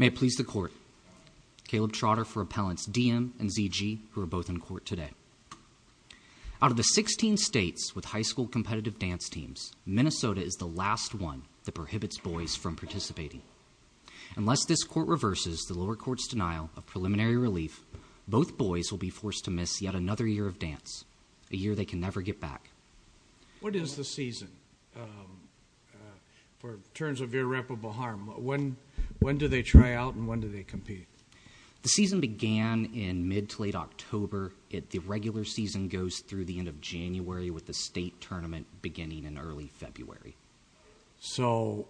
May it please the court, Caleb Trotter for Appellants D.M. and Z.G. who are both in court today. Out of the 16 states with high school competitive dance teams, Minnesota is the last one that prohibits boys from participating. Unless this court reverses the lower court's denial of preliminary relief, both boys will be forced to miss yet another year of dance, a year they can never get back. What is the season in terms of irreparable harm? When do they try out and when do they compete? The season began in mid to late October, yet the regular season goes through the end of January with the state tournament beginning in early February. So,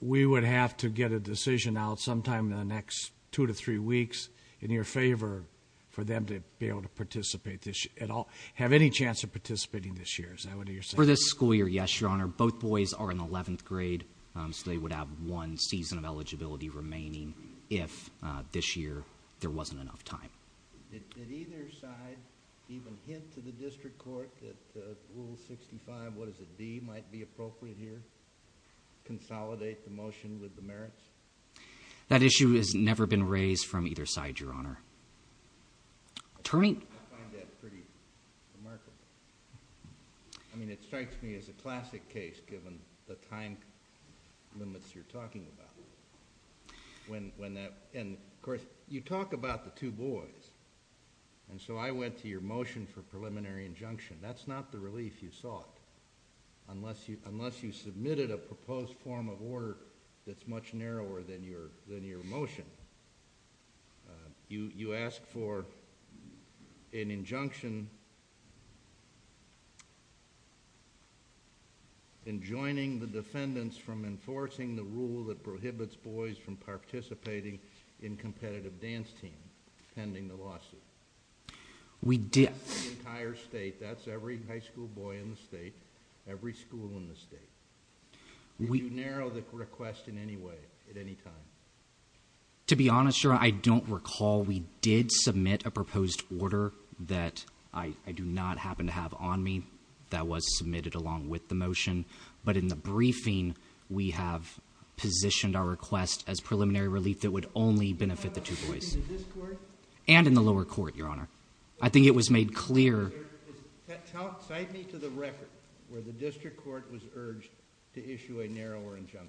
we would have to get a decision out sometime in the next two to three weeks in your favor for them to be able to participate this year at all, have any chance of participating this year is that what you're saying? For this school year, yes, your honor. Both boys are in 11th grade, so they would have one season of eligibility remaining if this year there wasn't enough time. Did either side even hint to the district court that Rule 65, what is it, D, might be appropriate? That issue has never been raised from either side, your honor. Attorney? I find that pretty remarkable. I mean, it strikes me as a classic case given the time limits you're talking about. And, of course, you talk about the two boys, and so I went to your motion for preliminary injunction. That's not the relief you sought unless you submitted a proposed form of order that's much narrower than your motion. You asked for an injunction enjoining the defendants from enforcing the rule that prohibits boys from participating in competitive dance teams pending the lawsuit. We did. That's the entire state. That's every high school boy in the state. Every school in the state. You can narrow the request in any way, at any time. To be honest, your honor, I don't recall we did submit a proposed order that I do not happen to have on me that was submitted along with the motion, but in the briefing, we have positioned our request as preliminary relief that would only benefit the two boys. And in the lower court, your honor. I think it was made clear. Cite me to the record where the district court was urged to issue a narrower injunction.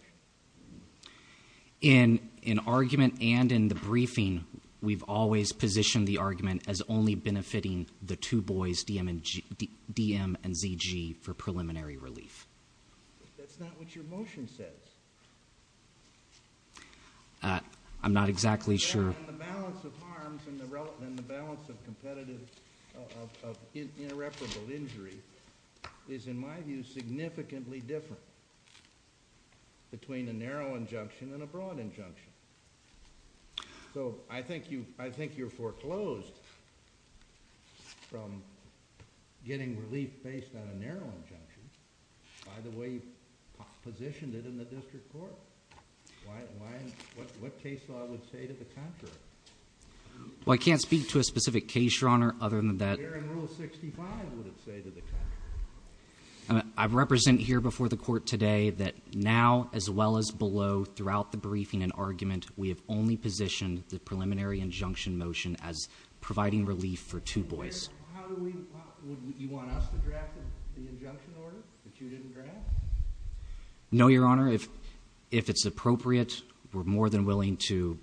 In argument and in the briefing, we've always positioned the argument as only benefiting the two boys, DM and ZG, for preliminary relief. But that's not what your motion says. I'm not exactly sure. And the balance of harms and the balance of competitive, of irreparable injury is, in my view, significantly different between a narrow injunction and a broad injunction. So I think you're foreclosed from getting relief based on a narrow injunction by the way you've positioned it in the district court. Why? What case law would say to the contrary? Well, I can't speak to a specific case, your honor, other than that. Where in Rule 65 would it say to the contrary? I represent here before the court today that now, as well as below, throughout the briefing and argument, we have only positioned the preliminary injunction motion as providing relief for two boys. How do we, would you want us to draft the injunction order that you didn't draft? No, your honor. If it's appropriate, we're more than willing to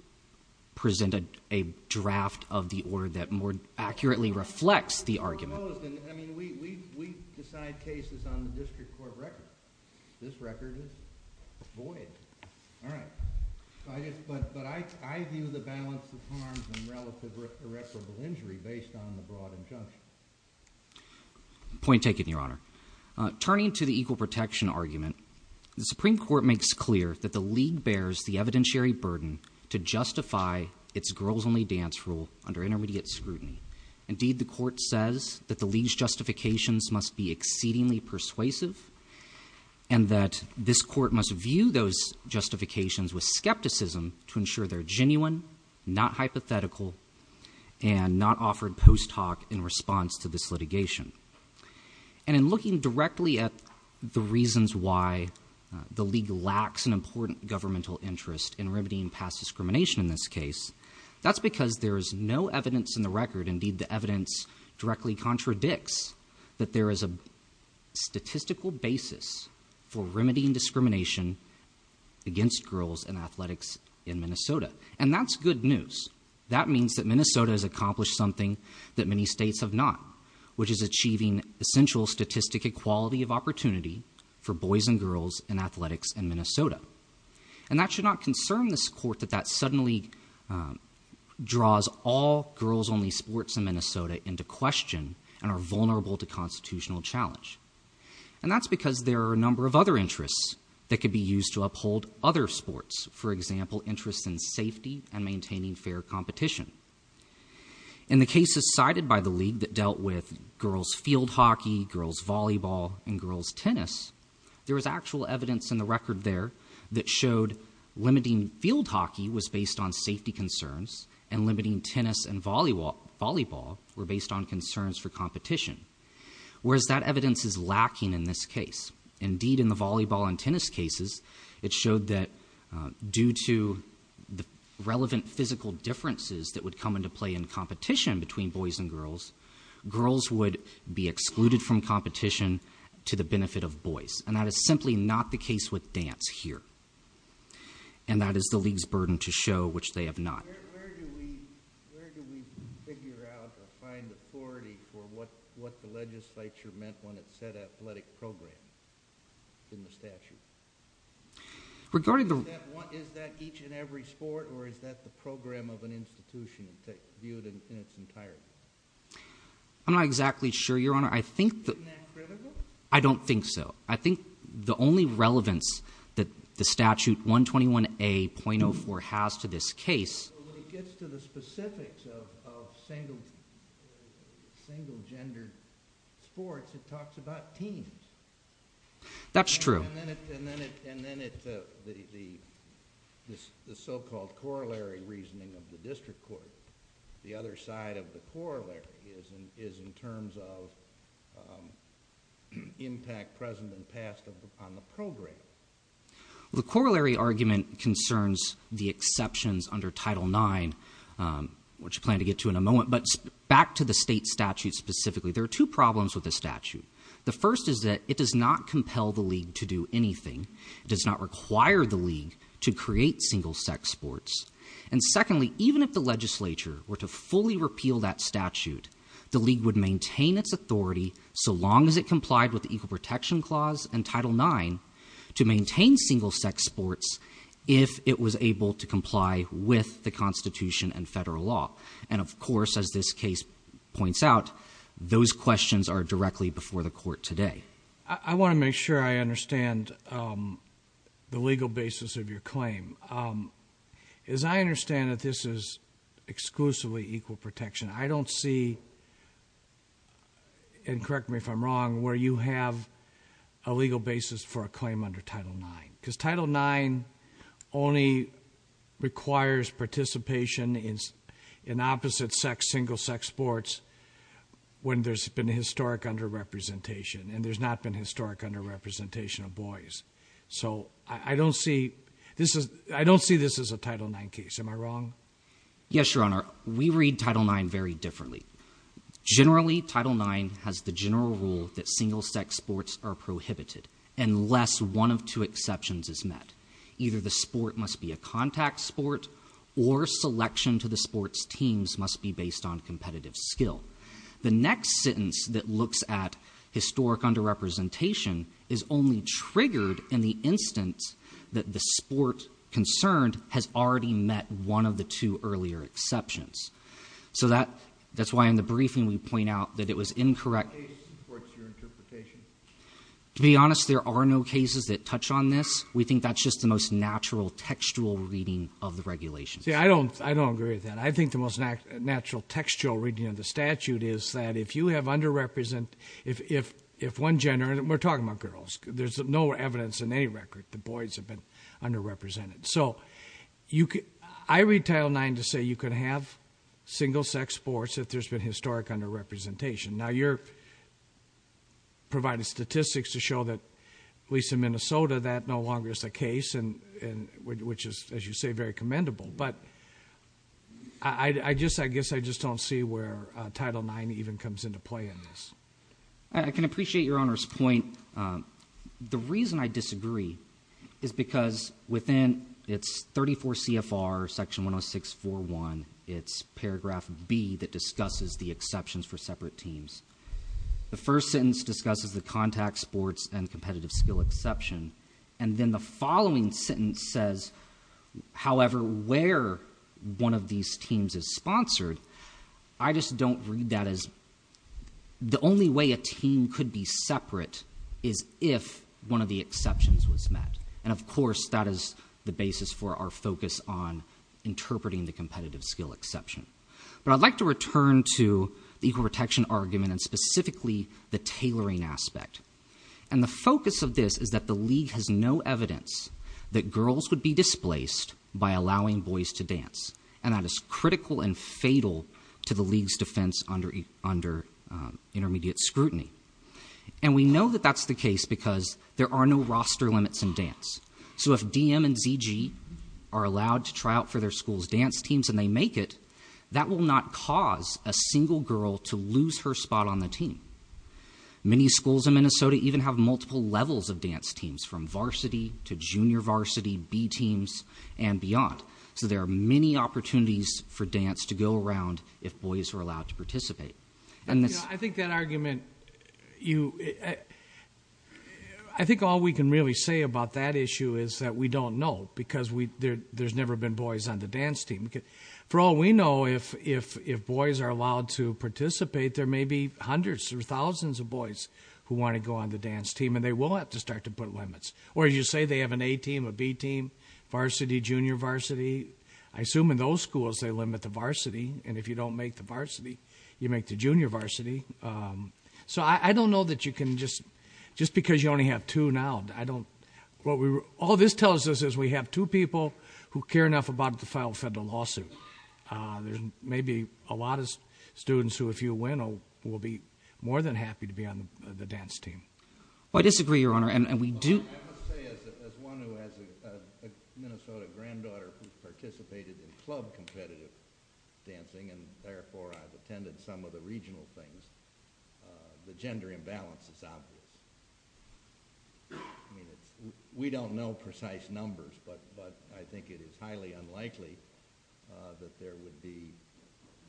present a draft of the order that more accurately reflects the argument. I mean, we decide cases on the district court record. This record is void. All right. But I view the balance of harms and relative irreparable injury based on the broad injunction. Point taken, your honor. Turning to the equal protection argument, the Supreme Court makes clear that the league bears the evidentiary burden to justify its girls-only dance rule under intermediate scrutiny. Indeed, the court says that the league's justifications must be exceedingly persuasive and that this court must view those justifications with skepticism to ensure they're genuine, not hypothetical, and not offered post hoc in response to this litigation. And in looking directly at the reasons why the league lacks an important governmental interest in remedying past discrimination in this case, that's because there is no evidence in the record, indeed the evidence directly contradicts, that there is a statistical basis for remedying discrimination against girls in athletics in Minnesota. And that's good news. That means that Minnesota has accomplished something that many states have not, which is achieving essential statistic equality of opportunity for boys and girls in athletics in Minnesota. And that should not concern this court that that suddenly draws all girls-only sports in Minnesota into question and are vulnerable to constitutional challenge. And that's because there are a number of other interests that could be used to uphold other sports, for example, interests in safety and maintaining fair competition. In the cases cited by the league that dealt with girls' field hockey, girls' volleyball, and girls' tennis, there was actual evidence in the record there that showed limiting field hockey was based on safety concerns and limiting tennis and volleyball were based on concerns for competition, whereas that evidence is lacking in this case. Indeed, in the volleyball and tennis cases, it showed that due to the relevant physical differences that would come into play in competition between boys and girls, girls would be excluded from competition to the benefit of boys. And that is simply not the case with dance here. And that is the league's burden to show, which they have not. Where do we figure out or find the authority for what the legislature meant when it said athletic programs in the statute? Is that each and every sport or is that the program of an institution viewed in its entirety? I'm not exactly sure, Your Honor. Isn't that critical? I don't think so. I think the only relevance that the statute 121A.04 has to this case When it gets to the specifics of single-gendered sports, it talks about teams. That's true. And then it's the so-called corollary reasoning of the district court. The other side of the corollary is in terms of impact present and past on the program. The corollary argument concerns the exceptions under Title IX, which we plan to get to in a moment. But back to the state statute specifically, there are two problems with the statute. The first is that it does not compel the league to do anything. It does not require the league to create single-sex sports. And secondly, even if the legislature were to fully repeal that statute, the league would maintain its authority so long as it complied with the Equal Protection Clause and Title IX to maintain single-sex sports if it was able to comply with the Constitution and federal law. And of course, as this case points out, those questions are directly before the court today. I want to make sure I understand the legal basis of your claim. As I understand it, this is exclusively equal protection. I don't see, and correct me if I'm wrong, where you have a legal basis for a claim under Title IX. Because Title IX only requires participation in opposite-sex, single-sex sports when there's been historic under-representation, and there's not been historic under-representation of boys. So I don't see this as a Title IX case. Am I wrong? Yes, Your Honor. We read Title IX very differently. Generally, Title IX has the general rule that single-sex sports are prohibited, unless one of two exceptions is met. Either the sport must be a contact sport, or selection to the sport's teams must be based on competitive skill. The next sentence that looks at historic under-representation is only triggered in the instance that the sport concerned has already met one of the two earlier exceptions. So that's why in the briefing we point out that it was incorrect. What case supports your interpretation? To be honest, there are no cases that touch on this. We think that's just the most natural textual reading of the regulations. See, I don't agree with that. I think the most natural textual reading of the statute is that if you have under-represented, if one gender, and we're talking about girls. There's no evidence in any record that boys have been under-represented. So I read Title IX to say you can have single-sex sports if there's been historic under-representation. Now you're providing statistics to show that, at least in Minnesota, that no longer is the case, which is, as you say, very commendable. But I guess I just don't see where Title IX even comes into play in this. I can appreciate Your Honor's point. The reason I disagree is because within its 34 CFR Section 10641, it's paragraph B that discusses the exceptions for separate teams. The first sentence discusses the contact sports and competitive skill exception. And then the following sentence says, however, where one of these teams is sponsored. I just don't read that as... The only way a team could be separate is if one of the exceptions was met. And of course, that is the basis for our focus on interpreting the competitive skill exception. But I'd like to return to the equal protection argument and specifically the tailoring aspect. And the focus of this is that the league has no evidence that girls would be displaced by allowing boys to dance. And that is critical and fatal to the league's defense under intermediate scrutiny. And we know that that's the case because there are no roster limits in dance. So if DM and ZG are allowed to try out for their school's dance teams and they make it, that will not cause a single girl to lose her spot on the team. Many schools in Minnesota even have multiple levels of dance teams, from varsity to junior varsity, B teams, and beyond. So there are many opportunities for dance to go around if boys are allowed to participate. I think that argument... I think all we can really say about that issue is that we don't know because there's never been boys on the dance team. For all we know, if boys are allowed to participate, there may be hundreds or thousands of boys who want to go on the dance team and they will have to start to put limits. Or as you say, they have an A team, a B team, varsity, junior varsity. I assume in those schools they limit the varsity. And if you don't make the varsity, you make the junior varsity. So I don't know that you can just... Just because you only have two now, I don't... All this tells us is we have two people who care enough about the final federal lawsuit. There's maybe a lot of students who, if you win, will be more than happy to be on the dance team. I disagree, Your Honor, and we do... I must say, as one who has a Minnesota granddaughter who participated in club competitive dancing and therefore I've attended some of the regional things, the gender imbalance is obvious. I mean, we don't know precise numbers, but I think it is highly unlikely that there would be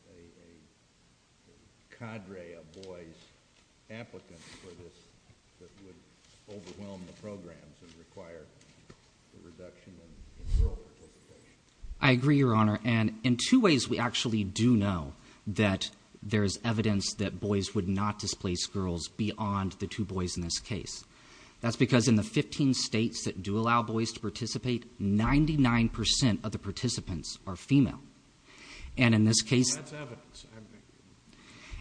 a cadre of boys applicants for this that would overwhelm the programs and require a reduction in girl participation. I agree, Your Honor, and in two ways we actually do know that there is evidence that boys would not displace girls beyond the two boys in this case. That's because in the 15 states that do allow boys to participate, 99% of the participants are female. And in this case... That's evidence.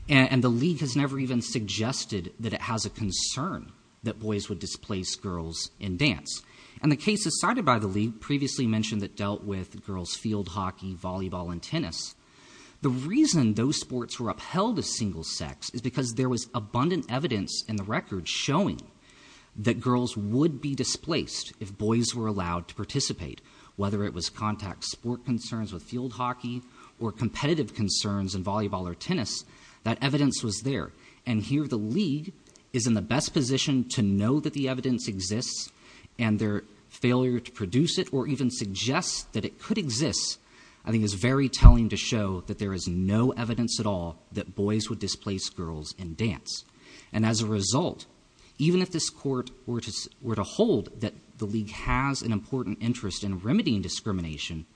And the league has never even suggested that it has a concern that boys would displace girls in dance. And the cases cited by the league previously mentioned that dealt with girls' field hockey, volleyball and tennis. The reason those sports were upheld as single sex is because there was abundant evidence in the record showing that girls would be displaced if boys were allowed to participate. Whether it was contact sport concerns with field hockey or competitive concerns in volleyball or tennis, that evidence was there. And here the league is in the best position to know that the evidence exists and their failure to produce it or even suggest that it could exist, I think is very telling to show that there is no evidence at all that boys would displace girls in dance. And as a result, even if this court were to hold that the league has an important interest in remedying discrimination,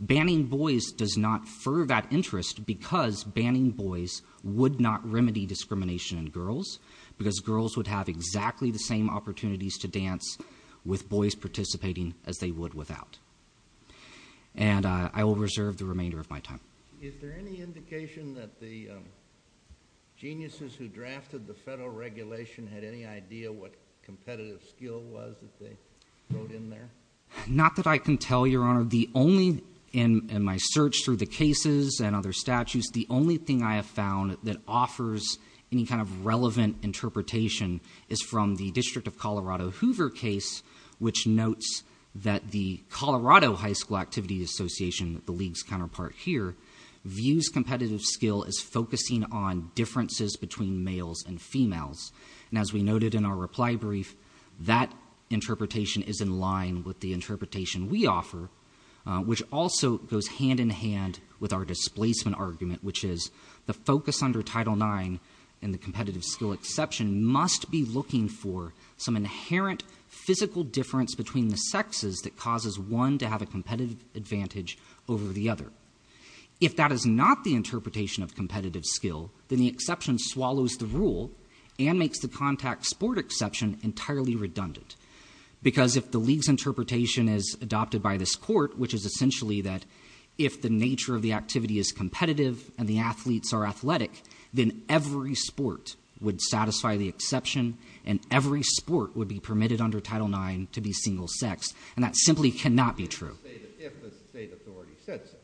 banning boys does not fur that interest because banning boys would not remedy discrimination in girls because girls would have exactly the same opportunities to dance with boys participating as they would without. And I will reserve the remainder of my time. Is there any indication that the geniuses who drafted the federal regulation had any idea what competitive skill was that they wrote in there? Not that I can tell, Your Honor. The only... In my search through the cases and other statutes, the only thing I have found that offers any kind of relevant interpretation is from the District of Colorado Hoover case, which notes that the Colorado High School Activity Association, the league's counterpart here, views competitive skill as focusing on differences between males and females. And as we noted in our reply brief, that interpretation is in line with the interpretation we offer, which also goes hand-in-hand with our displacement argument, which is the focus under Title IX in the competitive skill exception must be looking for some inherent physical difference between the sexes that causes one to have a competitive advantage over the other. If that is not the interpretation of competitive skill, then the exception swallows the rule and makes the contact sport exception entirely redundant. Because if the league's interpretation is adopted by this court, which is essentially that if the nature of the activity is competitive and the athletes are athletic, then every sport would satisfy the exception and every sport would be permitted under Title IX to be single-sex, and that simply cannot be true. If the state authority said so.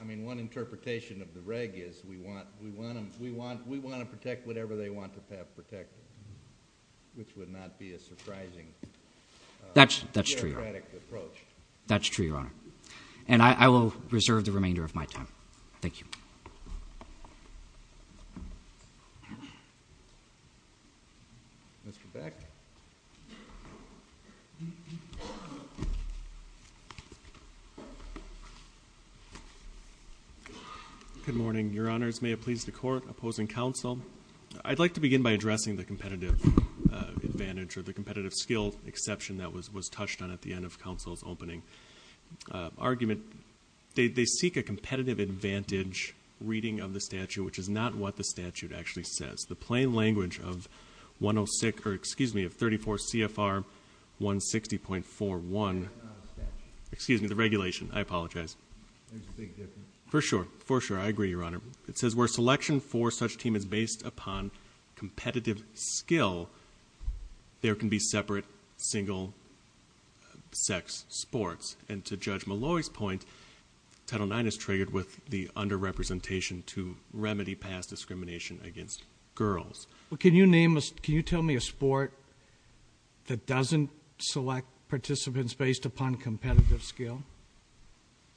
I mean, one interpretation of the reg is we want to protect whatever they want to have protected, which would not be a surprising... That's true, Your Honor. That's true, Your Honor. And I will reserve the remainder of my time. Thank you. Mr. Beck. Good morning, Your Honors. May it please the Court, opposing counsel, I'd like to begin by addressing the competitive advantage or the competitive skill exception that was touched on at the end of counsel's opening argument. They seek a competitive advantage reading of the statute, which is not what the statute actually says. The plain language of 106... or excuse me, of 34 CFR 160.41... That's not in the statute. Excuse me, the regulation. I apologize. There's a big difference. For sure, for sure. I agree, Your Honor. It says where selection for such team is based upon competitive skill, there can be separate single-sex sports. And to Judge Malloy's point, Title IX is triggered with the under-representation to remedy past discrimination against girls. Well, can you name a... Can you tell me a sport that doesn't select participants based upon competitive skill?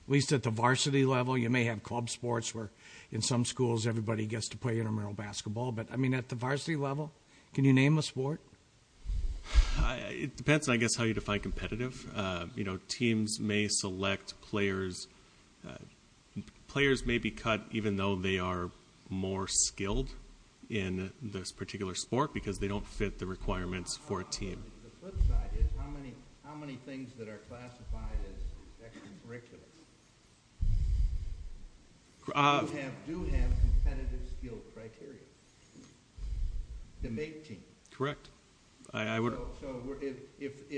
At least at the varsity level. You may have club sports where in some schools everybody gets to play intramural basketball. But, I mean, at the varsity level? Can you name a sport? It depends, I guess, how you define competitive. You know, teams may select players... Players may be cut even though they are more skilled in this particular sport because they don't fit the requirements for a team. The flip side is, how many things that are classified as extracurricular? Uh... They do have competitive skill criteria. To make teams. Correct. So, if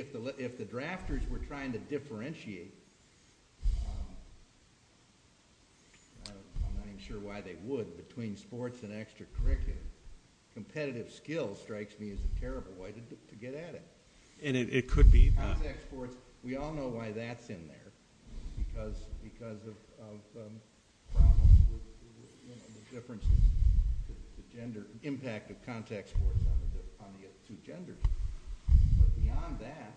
the drafters were trying to differentiate... I'm not even sure why they would between sports and extracurricular, competitive skill strikes me as a terrible way to get at it. And it could be... We all know why that's in there. Because of... The difference in gender... Impact of contact sports on the two genders. But beyond that...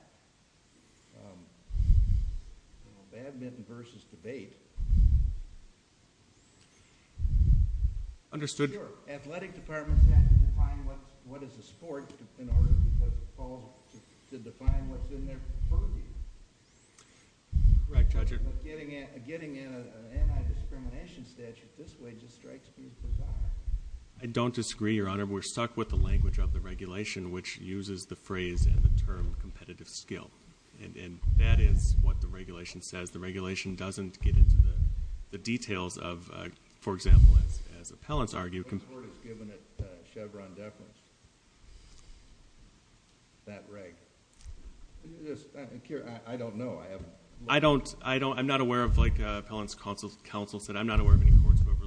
Badminton versus debate. Understood. Sure. Athletic departments have to define what is a sport in order to define what's in there for me. Correct, Judge. Getting an anti-discrimination statute this way just strikes me as bizarre. I don't disagree, Your Honor. We're stuck with the language of the regulation which uses the phrase and the term competitive skill. And that is what the regulation says. The regulation doesn't get into the details of... For example, as appellants argue... The court has given it Chevron deference. That reg. Yes. I don't know. I'm not aware of... Like appellant's counsel said, I'm not aware of any courts who have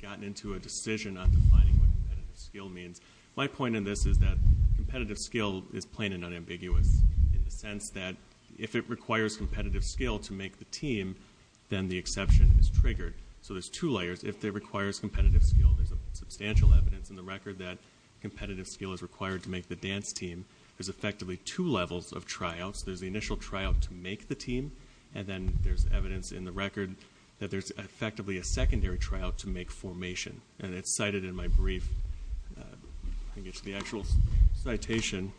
gotten into a decision on defining what competitive skill means. My point in this is that competitive skill is plain and unambiguous in the sense that if it requires competitive skill to make the team, then the exception is triggered. So there's two layers. First, if it requires competitive skill, there's substantial evidence in the record that competitive skill is required to make the dance team. There's effectively two levels of tryouts. There's the initial tryout to make the team and then there's evidence in the record that there's effectively a secondary tryout to make formation. And it's cited in my brief. I think it's the actual citation.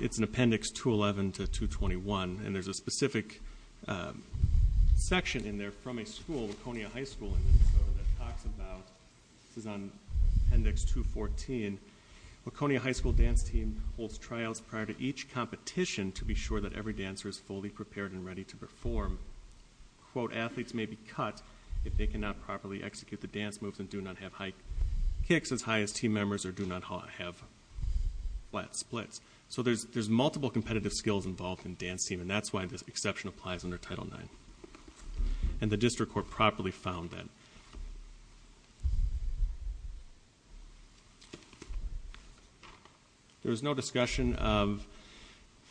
It's in Appendix 211 to 221. And there's a specific section in there from a school, Laconia High School in Minnesota that talks about... This is on Appendix 214. Laconia High School dance team holds tryouts prior to each competition to be sure that every dancer is fully prepared and ready to perform. Athletes may be cut if they cannot properly execute the dance moves and do not have high kicks as high as team members or do not have flat splits. So there's multiple competitive skills involved in dance team and that's why this exception applies under Title IX. And the district court properly found that. There was no discussion of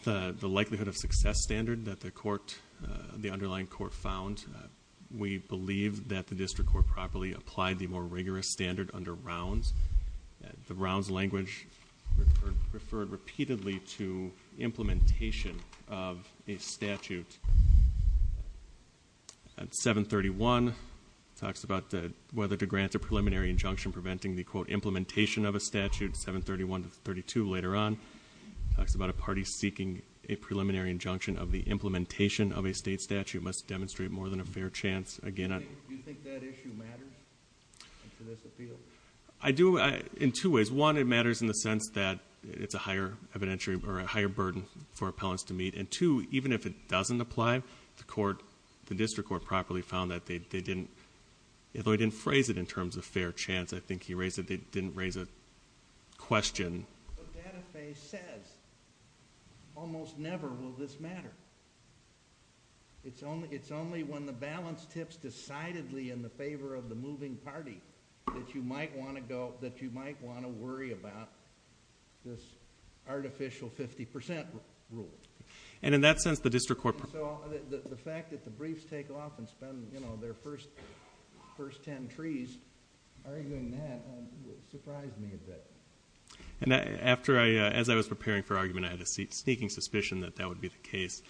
the likelihood of success standard that the court the underlying court found. We believe that the district court properly applied the more rigorous standard under rounds. The rounds language referred repeatedly to implementation of a statute. 731 talks about whether to grant a preliminary injunction preventing the quote implementation of a statute 731 to 732 later on talks about a party seeking a preliminary injunction of the implementation of a state statute must demonstrate more than a fair chance Do you think that issue matters? I do in two ways. One, it matters in the sense that it's a higher evidentiary or a higher burden for appellants to meet. And two, even if it doesn't apply the court, the district court properly found that they didn't they didn't phrase it in terms of fair chance. I think he raised that they didn't raise a question The data phase says almost never will this matter It's only when the balance tips decidedly in the favor of the moving party that you might want to go that you might want to worry about this artificial 50% rule And in that sense the district court The fact that the briefs take off and spend their first first ten trees arguing that surprised me a bit As I was preparing for argument I had a sneaking suspicion that that would be the case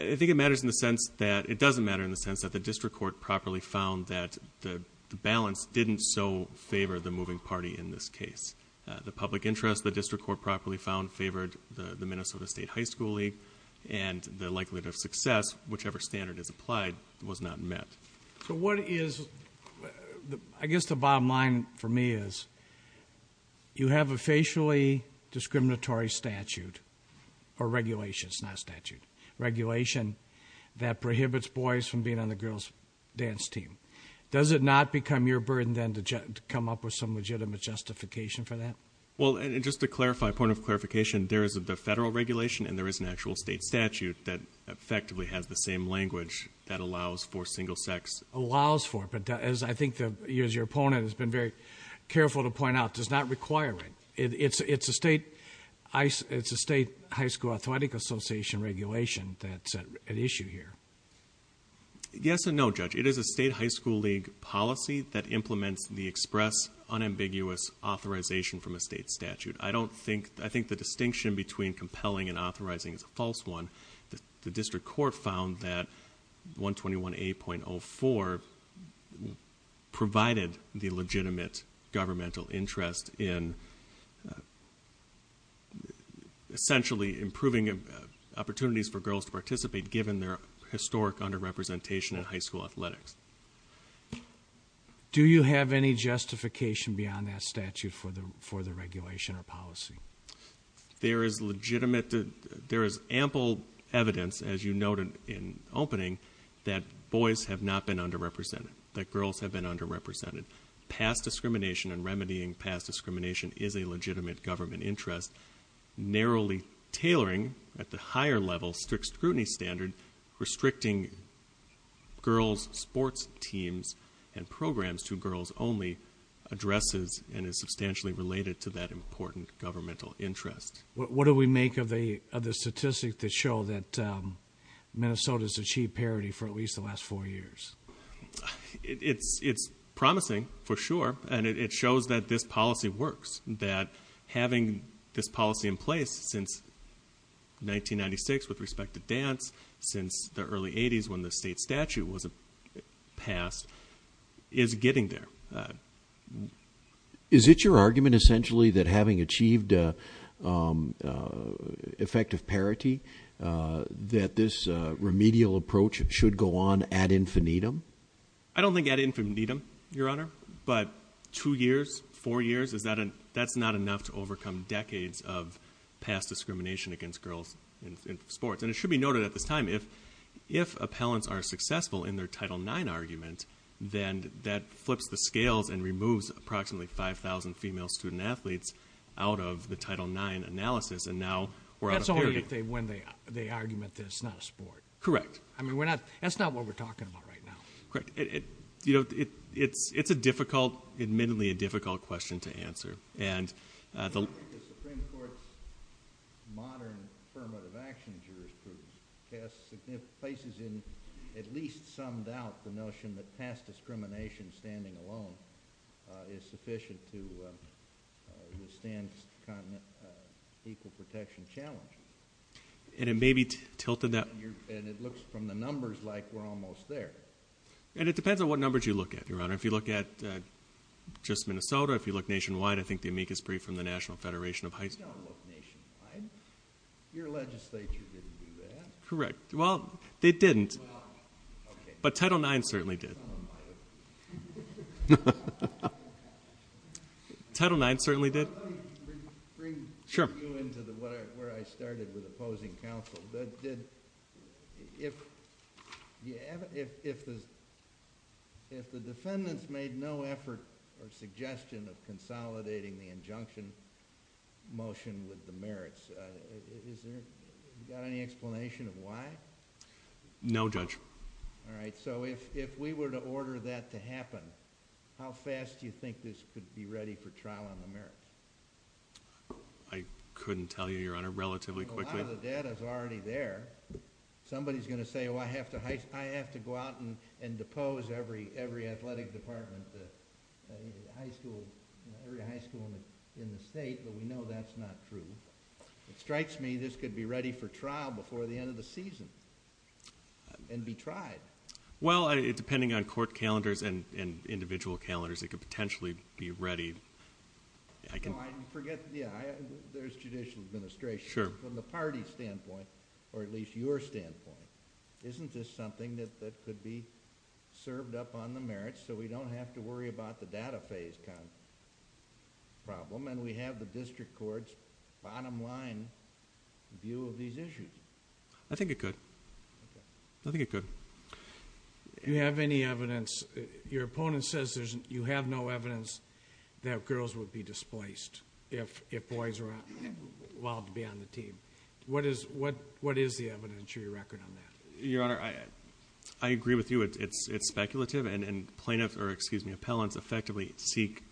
I think it matters in the sense that it doesn't matter in the sense that the district court properly found that the balance didn't so favor the moving party in this case The public interest the district court properly found favored the Minnesota State High School League and the likelihood of success whichever standard is applied was not met I guess the bottom line for me is you have a facially discriminatory statute or regulation, it's not a statute regulation that prohibits boys from being on the girls dance team. Does it not become your burden then to come up with some legitimate justification for that? Well just to clarify, point of clarification there is the federal regulation and there is an actual state statute that effectively has the same language that allows for single sex. Allows for but as I think your opponent has been very careful to point out does not require it. It's a state it's a state high school authority association regulation that's at issue here Yes and no judge it is a state high school league policy that implements the express unambiguous authorization from a state statute. I don't think, I think the distinction between compelling and authorizing is a false one. The district court found that 121 8.04 provided the legitimate governmental interest in essentially improving opportunities for girls to participate given their historic underrepresentation in high school athletics Do you have any justification beyond that statute for the regulation or policy? There is legitimate there is ample evidence as you noted in opening that boys have not been underrepresented. That girls have been underrepresented. Past discrimination remedying past discrimination is a legitimate government interest narrowly tailoring at the higher level strict scrutiny standard restricting girls sports teams and programs to girls only addresses and is substantially related to that important governmental interest. What do we make of the statistics that show that Minnesota's achieved parity for at least the last four years? It's promising for sure and it shows that this policy works that having this policy in place since 1996 with respect to dance since the early 80s when the state statute was passed is getting there Is it your argument essentially that having achieved effective parity that this remedial approach should go on at infinitum? I don't think at infinitum your honor but two years four years that's not enough to overcome decades of past discrimination against girls in sports and it should be noted at this time if appellants are successful in their title 9 argument then that flips the scales and removes approximately 5,000 female student athletes out of the title 9 analysis and now That's only if they win the argument that it's not a sport. Correct. That's not what we're talking about right now. Correct. It's a difficult question to answer I think the Supreme Court modern affirmative action jurisprudence places in at least some doubt the notion that past discrimination standing alone is sufficient to withstand equal protection challenge. And it may be tilted And it looks from the numbers like we're almost there. And it depends on what numbers you look at your honor. If you look at just Minnesota if you look nationwide I think the amicus brief from the National Federation of Heights Your legislature didn't do that. Correct. They didn't. But title 9 certainly did. Title 9 certainly did. Let me bring you into where I started with opposing counsel if if the defendants made no effort or suggestion of consolidating the injunction motion with the merits is there any explanation of why? No Judge. If we were to order that to happen how fast do you think this could be ready for trial on the merits? I couldn't tell you your honor. Relatively quickly. A lot of the data is already there. Somebody is going to say I have to go out and depose every athletic department high school in the state but we know that's not true. It strikes me this could be ready for trial before the end of the season and be tried. Well depending on court calendars and individual calendars it could potentially be ready. I forget there's judicial administration from the parties standpoint or at least your standpoint isn't this something that could be served up on the merits so we don't have to worry about the data phase problem and we have the district courts bottom line view of these issues. I think it could. I think it could. You have any evidence your opponent says you have no evidence that girls would be displaced if boys were allowed to be on the team. What is the evidence or your record on that? Your honor I agree with you it's speculative and plaintiffs or excuse me appellants effectively seek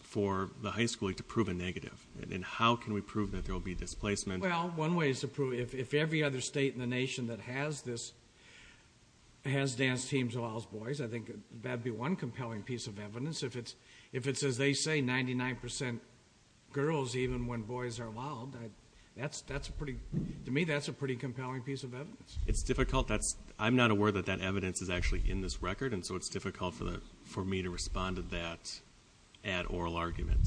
for the high school to prove a negative and how can we prove that there will be displacement? If every other state in the nation that has this has dance teams allows boys I think that would be one compelling piece of evidence if it's as they say 99% girls even when boys are allowed to me that's a pretty compelling piece of evidence. I'm not aware that that evidence is actually in this record and so it's difficult for me to respond to that at oral argument.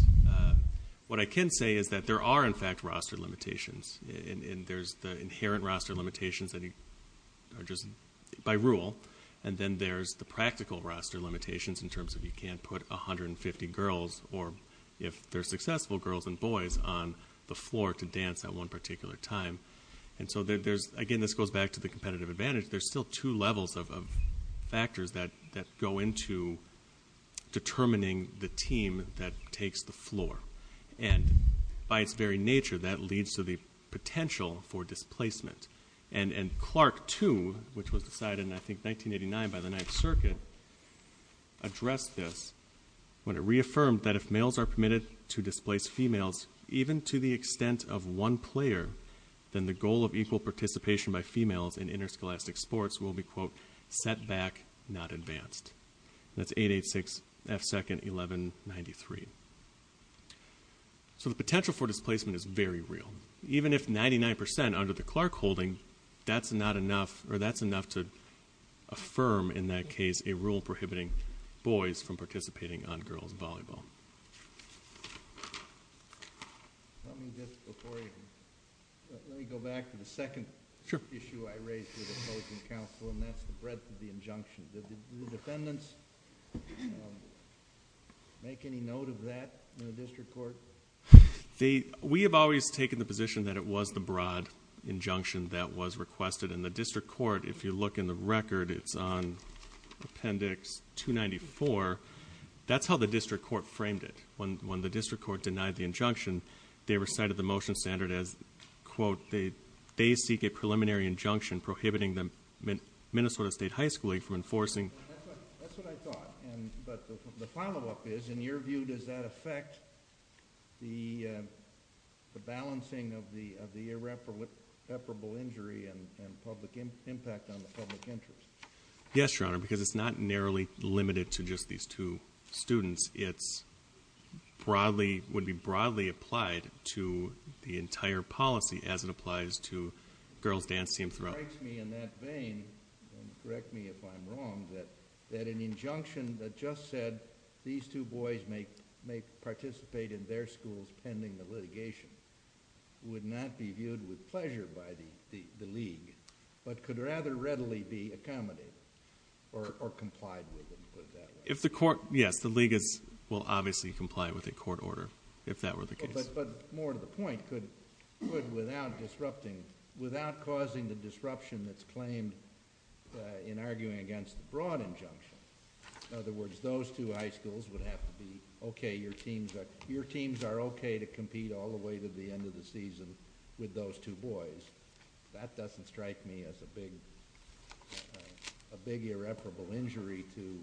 What I can say is that there are in fact roster limitations and there's the inherent roster limitations by rule and then there's the practical roster limitations in terms of you can't put 150 girls or if they're successful girls and boys on the floor to dance at one particular time and so there's again this goes back to the competitive advantage there's still two levels of factors that go into determining the team that takes the floor and by its very nature that leads to the potential for displacement and Clark too which was decided in I think 1989 by the 9th circuit addressed this when it reaffirmed that if males are permitted to displace females even to the extent of one player then the goal of equal participation by females in interscholastic sports will be set back not advanced that's 886 F second 1193 so the potential for displacement is very real even if 99% under the Clark holding that's not enough or that's enough to affirm in that case a rule prohibiting boys from participating on girls volleyball let me go back to the second issue I raised with opposing counsel and that's the breadth of the injunction did the defendants make any note of that in the district court we have always taken the position that it was the broad injunction that was requested in the district court if you look in the record it's on appendix 294 that's how the district court framed it when the district court denied the injunction they recited the motion standard as quote they seek a preliminary injunction prohibiting the Minnesota state high school league that's what I thought but the follow up is in your view does that affect the balancing of the irreparable injury and public impact on the public interest yes your honor because it's not narrowly limited to just these two students it would be broadly applied to the entire policy as it applies to girls dance team throughout it strikes me in that vein correct me if I'm wrong that an injunction that just said these two boys may participate in their schools pending the litigation would not be viewed with pleasure by the league but could rather readily be accommodated or complied with yes the league will obviously comply with a court order if that were the case but more to the point without disrupting without causing the disruption that's claimed in arguing against the broad injunction in other words those two high schools would have to be okay your teams are okay to compete all the way to the end of the season with those two boys that doesn't strike me as a big a big irreparable injury to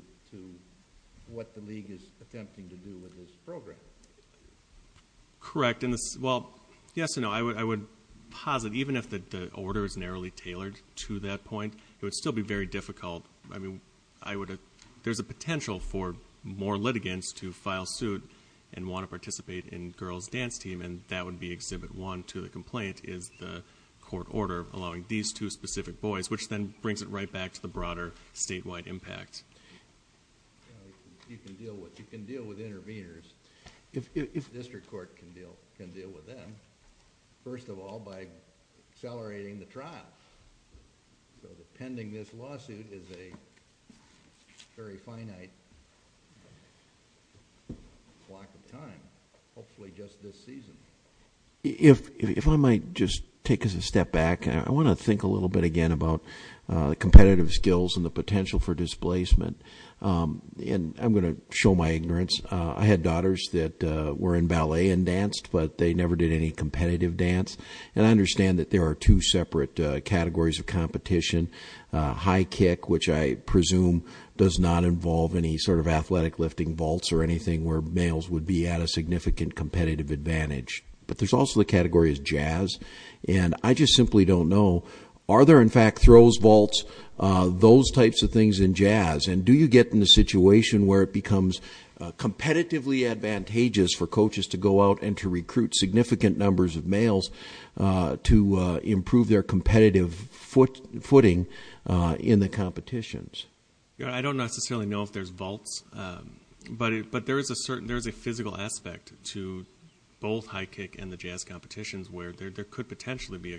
what the league is attempting to do with this program correct yes and no I would posit even if the order is narrowly tailored to that point it would still be very difficult there's a potential for more litigants to file suit and want to participate in girls dance team and that would be exhibit one to the complaint is the court order allowing these two specific boys which then brings it right back to the broader statewide impact you can deal with you can deal with interveners if the district court can deal with them first of all by accelerating the trial pending this lawsuit is a very finite block of time hopefully just this season if I might just take a step back I want to think a little bit again about the competitive skills and the potential for displacement and I'm going to show my ignorance I had daughters that were in ballet and danced but they never did any competitive dance and I understand that there are two separate categories of competition high kick which I presume does not involve any sort of athletic lifting vaults or anything where males would be at a significant competitive advantage but there's also the category of jazz and I just simply don't know are there in fact throws vaults those types of things in jazz and do you get in a situation where it becomes competitively advantageous for coaches to go out and to recruit significant numbers of males to improve their competitive footing in the competitions I don't necessarily know if there's vaults but there is a physical aspect to both high kick and the jazz competitions where there could potentially be a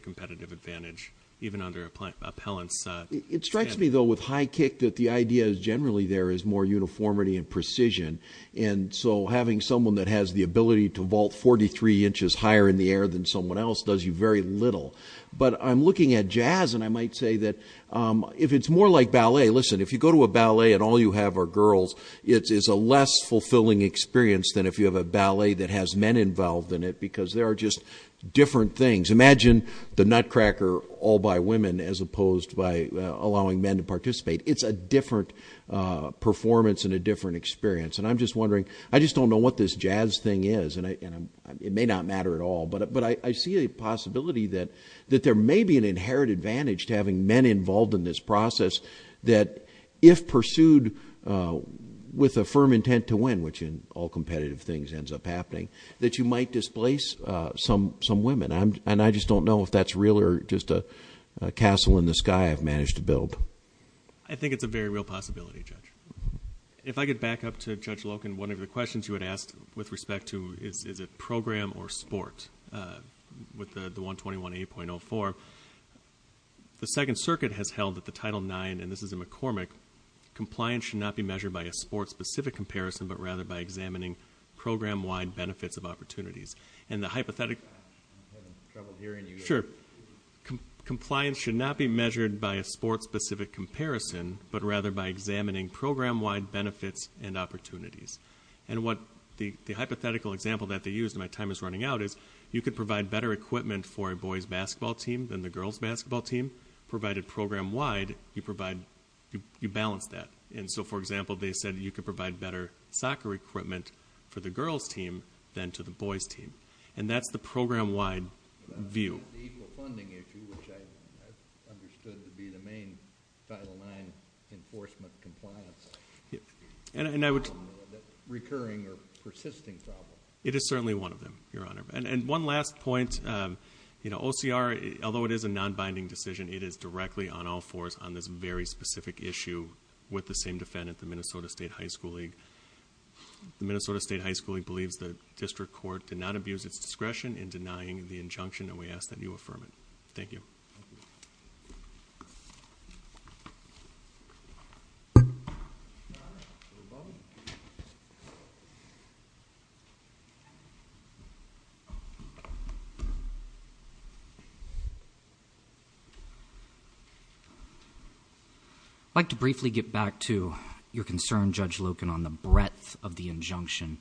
It strikes me though with high kick that the idea is generally there is more uniformity and precision and so having someone that has the ability to vault 43 inches higher in the air than someone else does you very little but I'm looking at jazz and I might say that if it's more like ballet listen if you go to a ballet and all you have are girls it's a less fulfilling experience than if you have a ballet that has men involved in it because there are just different things imagine the nutcracker all by women as opposed by allowing men to participate it's a different performance and a different experience and I'm just wondering I just don't know what this jazz thing is and it may not matter at all but I see a possibility that there may be an inherent advantage to having men involved in this process that if pursued with a firm intent to win which in all competitive things ends up happening that you might displace some women and I just don't know if that's real or just a castle in the sky I've managed to build I think it's a very real possibility Judge If I could back up to Judge Loken one of the questions you had asked with respect to is it program or sport with the 121A.04 the Second Circuit has held that the Title IX and this is a McCormick compliance should not be measured by a sport specific comparison but rather by examining program wide benefits of opportunities and the hypothetic sure compliance should not be measured by a sport specific comparison but rather by examining program wide benefits and opportunities and what the hypothetical example that they used my time is running out is you could provide better equipment for a boys basketball team than the girls basketball team provided program wide you provide you balance that and so for example they said you could provide better soccer equipment for the girls team than to the boys team and that's the program wide view equal funding issue which I understood to be the main Title IX enforcement compliance recurring or persisting problem it is certainly one of them your honor and one last point you know OCR although it is a non-binding decision it is directly on all fours on this very specific issue with the same defendant the Minnesota State High School League the Minnesota State High School League believes that district court did not abuse its discretion in denying the injunction and we ask that you affirm it. Thank you. I'd like to briefly get back to your concern Judge Loken on the breadth of the injunction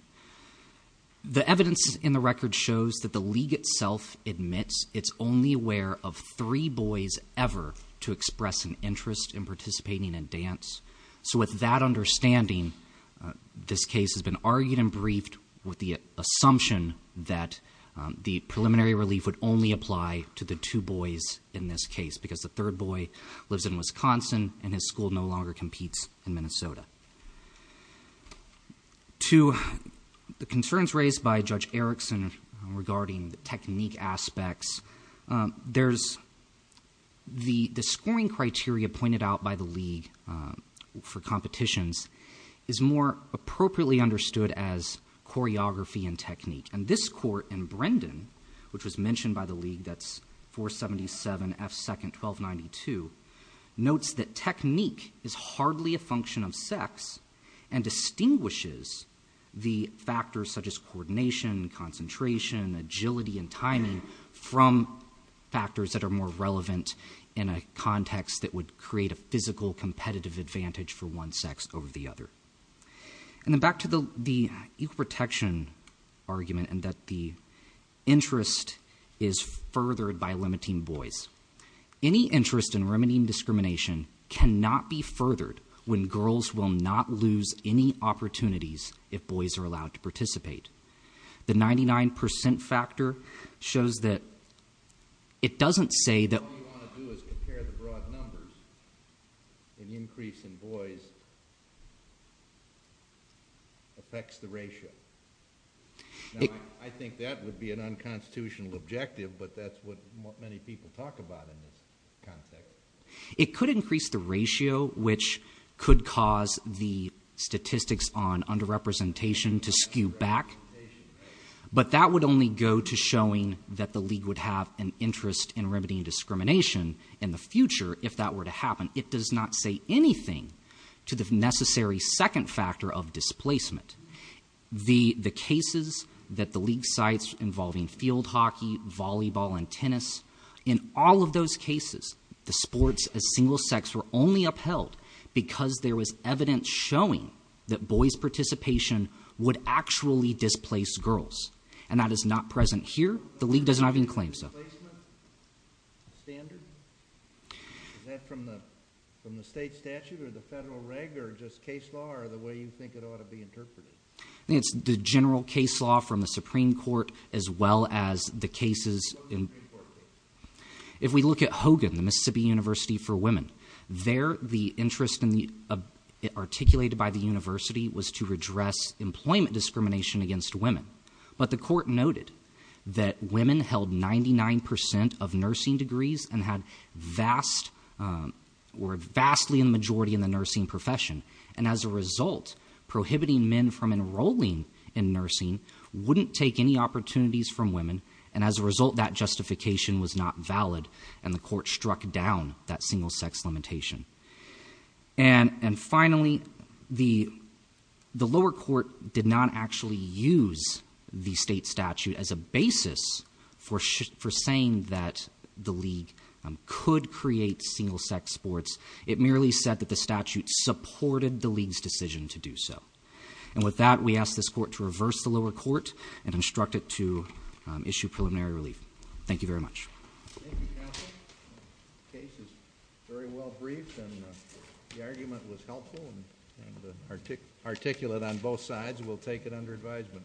the evidence in the record shows that the league itself admits it's only aware of three boys ever to express an interest in participating in dance so with that understanding this case has been argued and briefed with the assumption that the preliminary relief would only apply to the two boys in this case because the third boy lives in Wisconsin and his school no longer competes in Minnesota to the concerns raised by Judge Erickson regarding technique aspects there's the scoring criteria pointed out by the league for competitions is more appropriately understood as choreography and technique and this court and Brendan which was mentioned by the league that's 477 F 2nd 1292 notes that technique is hardly a function of sex and distinguishes the factors such as coordination, concentration, agility and timing from factors that are more relevant in a context that would create a physical competitive advantage for one sex over the other and then back to the equal protection argument that the interest is furthered by limiting boys. Any interest in remedying discrimination cannot be furthered when girls will not lose any opportunities if boys are allowed to participate. The 99% factor shows that it doesn't say that all you want to do is compare the broad numbers the increase in boys affects the ratio I think that would be an unconstitutional objective but that's what many people talk about it could increase the ratio which could cause the statistics on under representation to skew back but that would only go to showing that the league would have an interest in remedying discrimination in the future if that were to happen it does not say anything to the necessary 2nd factor of displacement the cases that the league sites involving field hockey volleyball and tennis in all of those cases the sports as single sex were only upheld because there was evidence showing that boys participation would actually displace girls and that is not present here the league does not even claim so is that from the state statute or the federal reg or just case law or the way you think it ought to be interpreted I think it's the general case law from the supreme court as well as the cases if we look at Hogan the Mississippi University for women there the interest articulated by the university was to redress employment discrimination against women but the court noted that women held 99% of nursing degrees and had vast majority in the nursing profession and as a result prohibiting men from enrolling in nursing wouldn't take any opportunities from women and as a result that justification was not valid and the court struck down that single sex limitation and finally the lower court did not actually use the state statute as a basis for saying that the league could create single sex sports it merely said that the statute supported the league's decision to do so and with that we ask this court to reverse the lower court and instruct it to issue preliminary relief thank you very much thank you counsel the case is very well briefed and the argument was helpful and articulate on both sides we'll take it under advisement thank you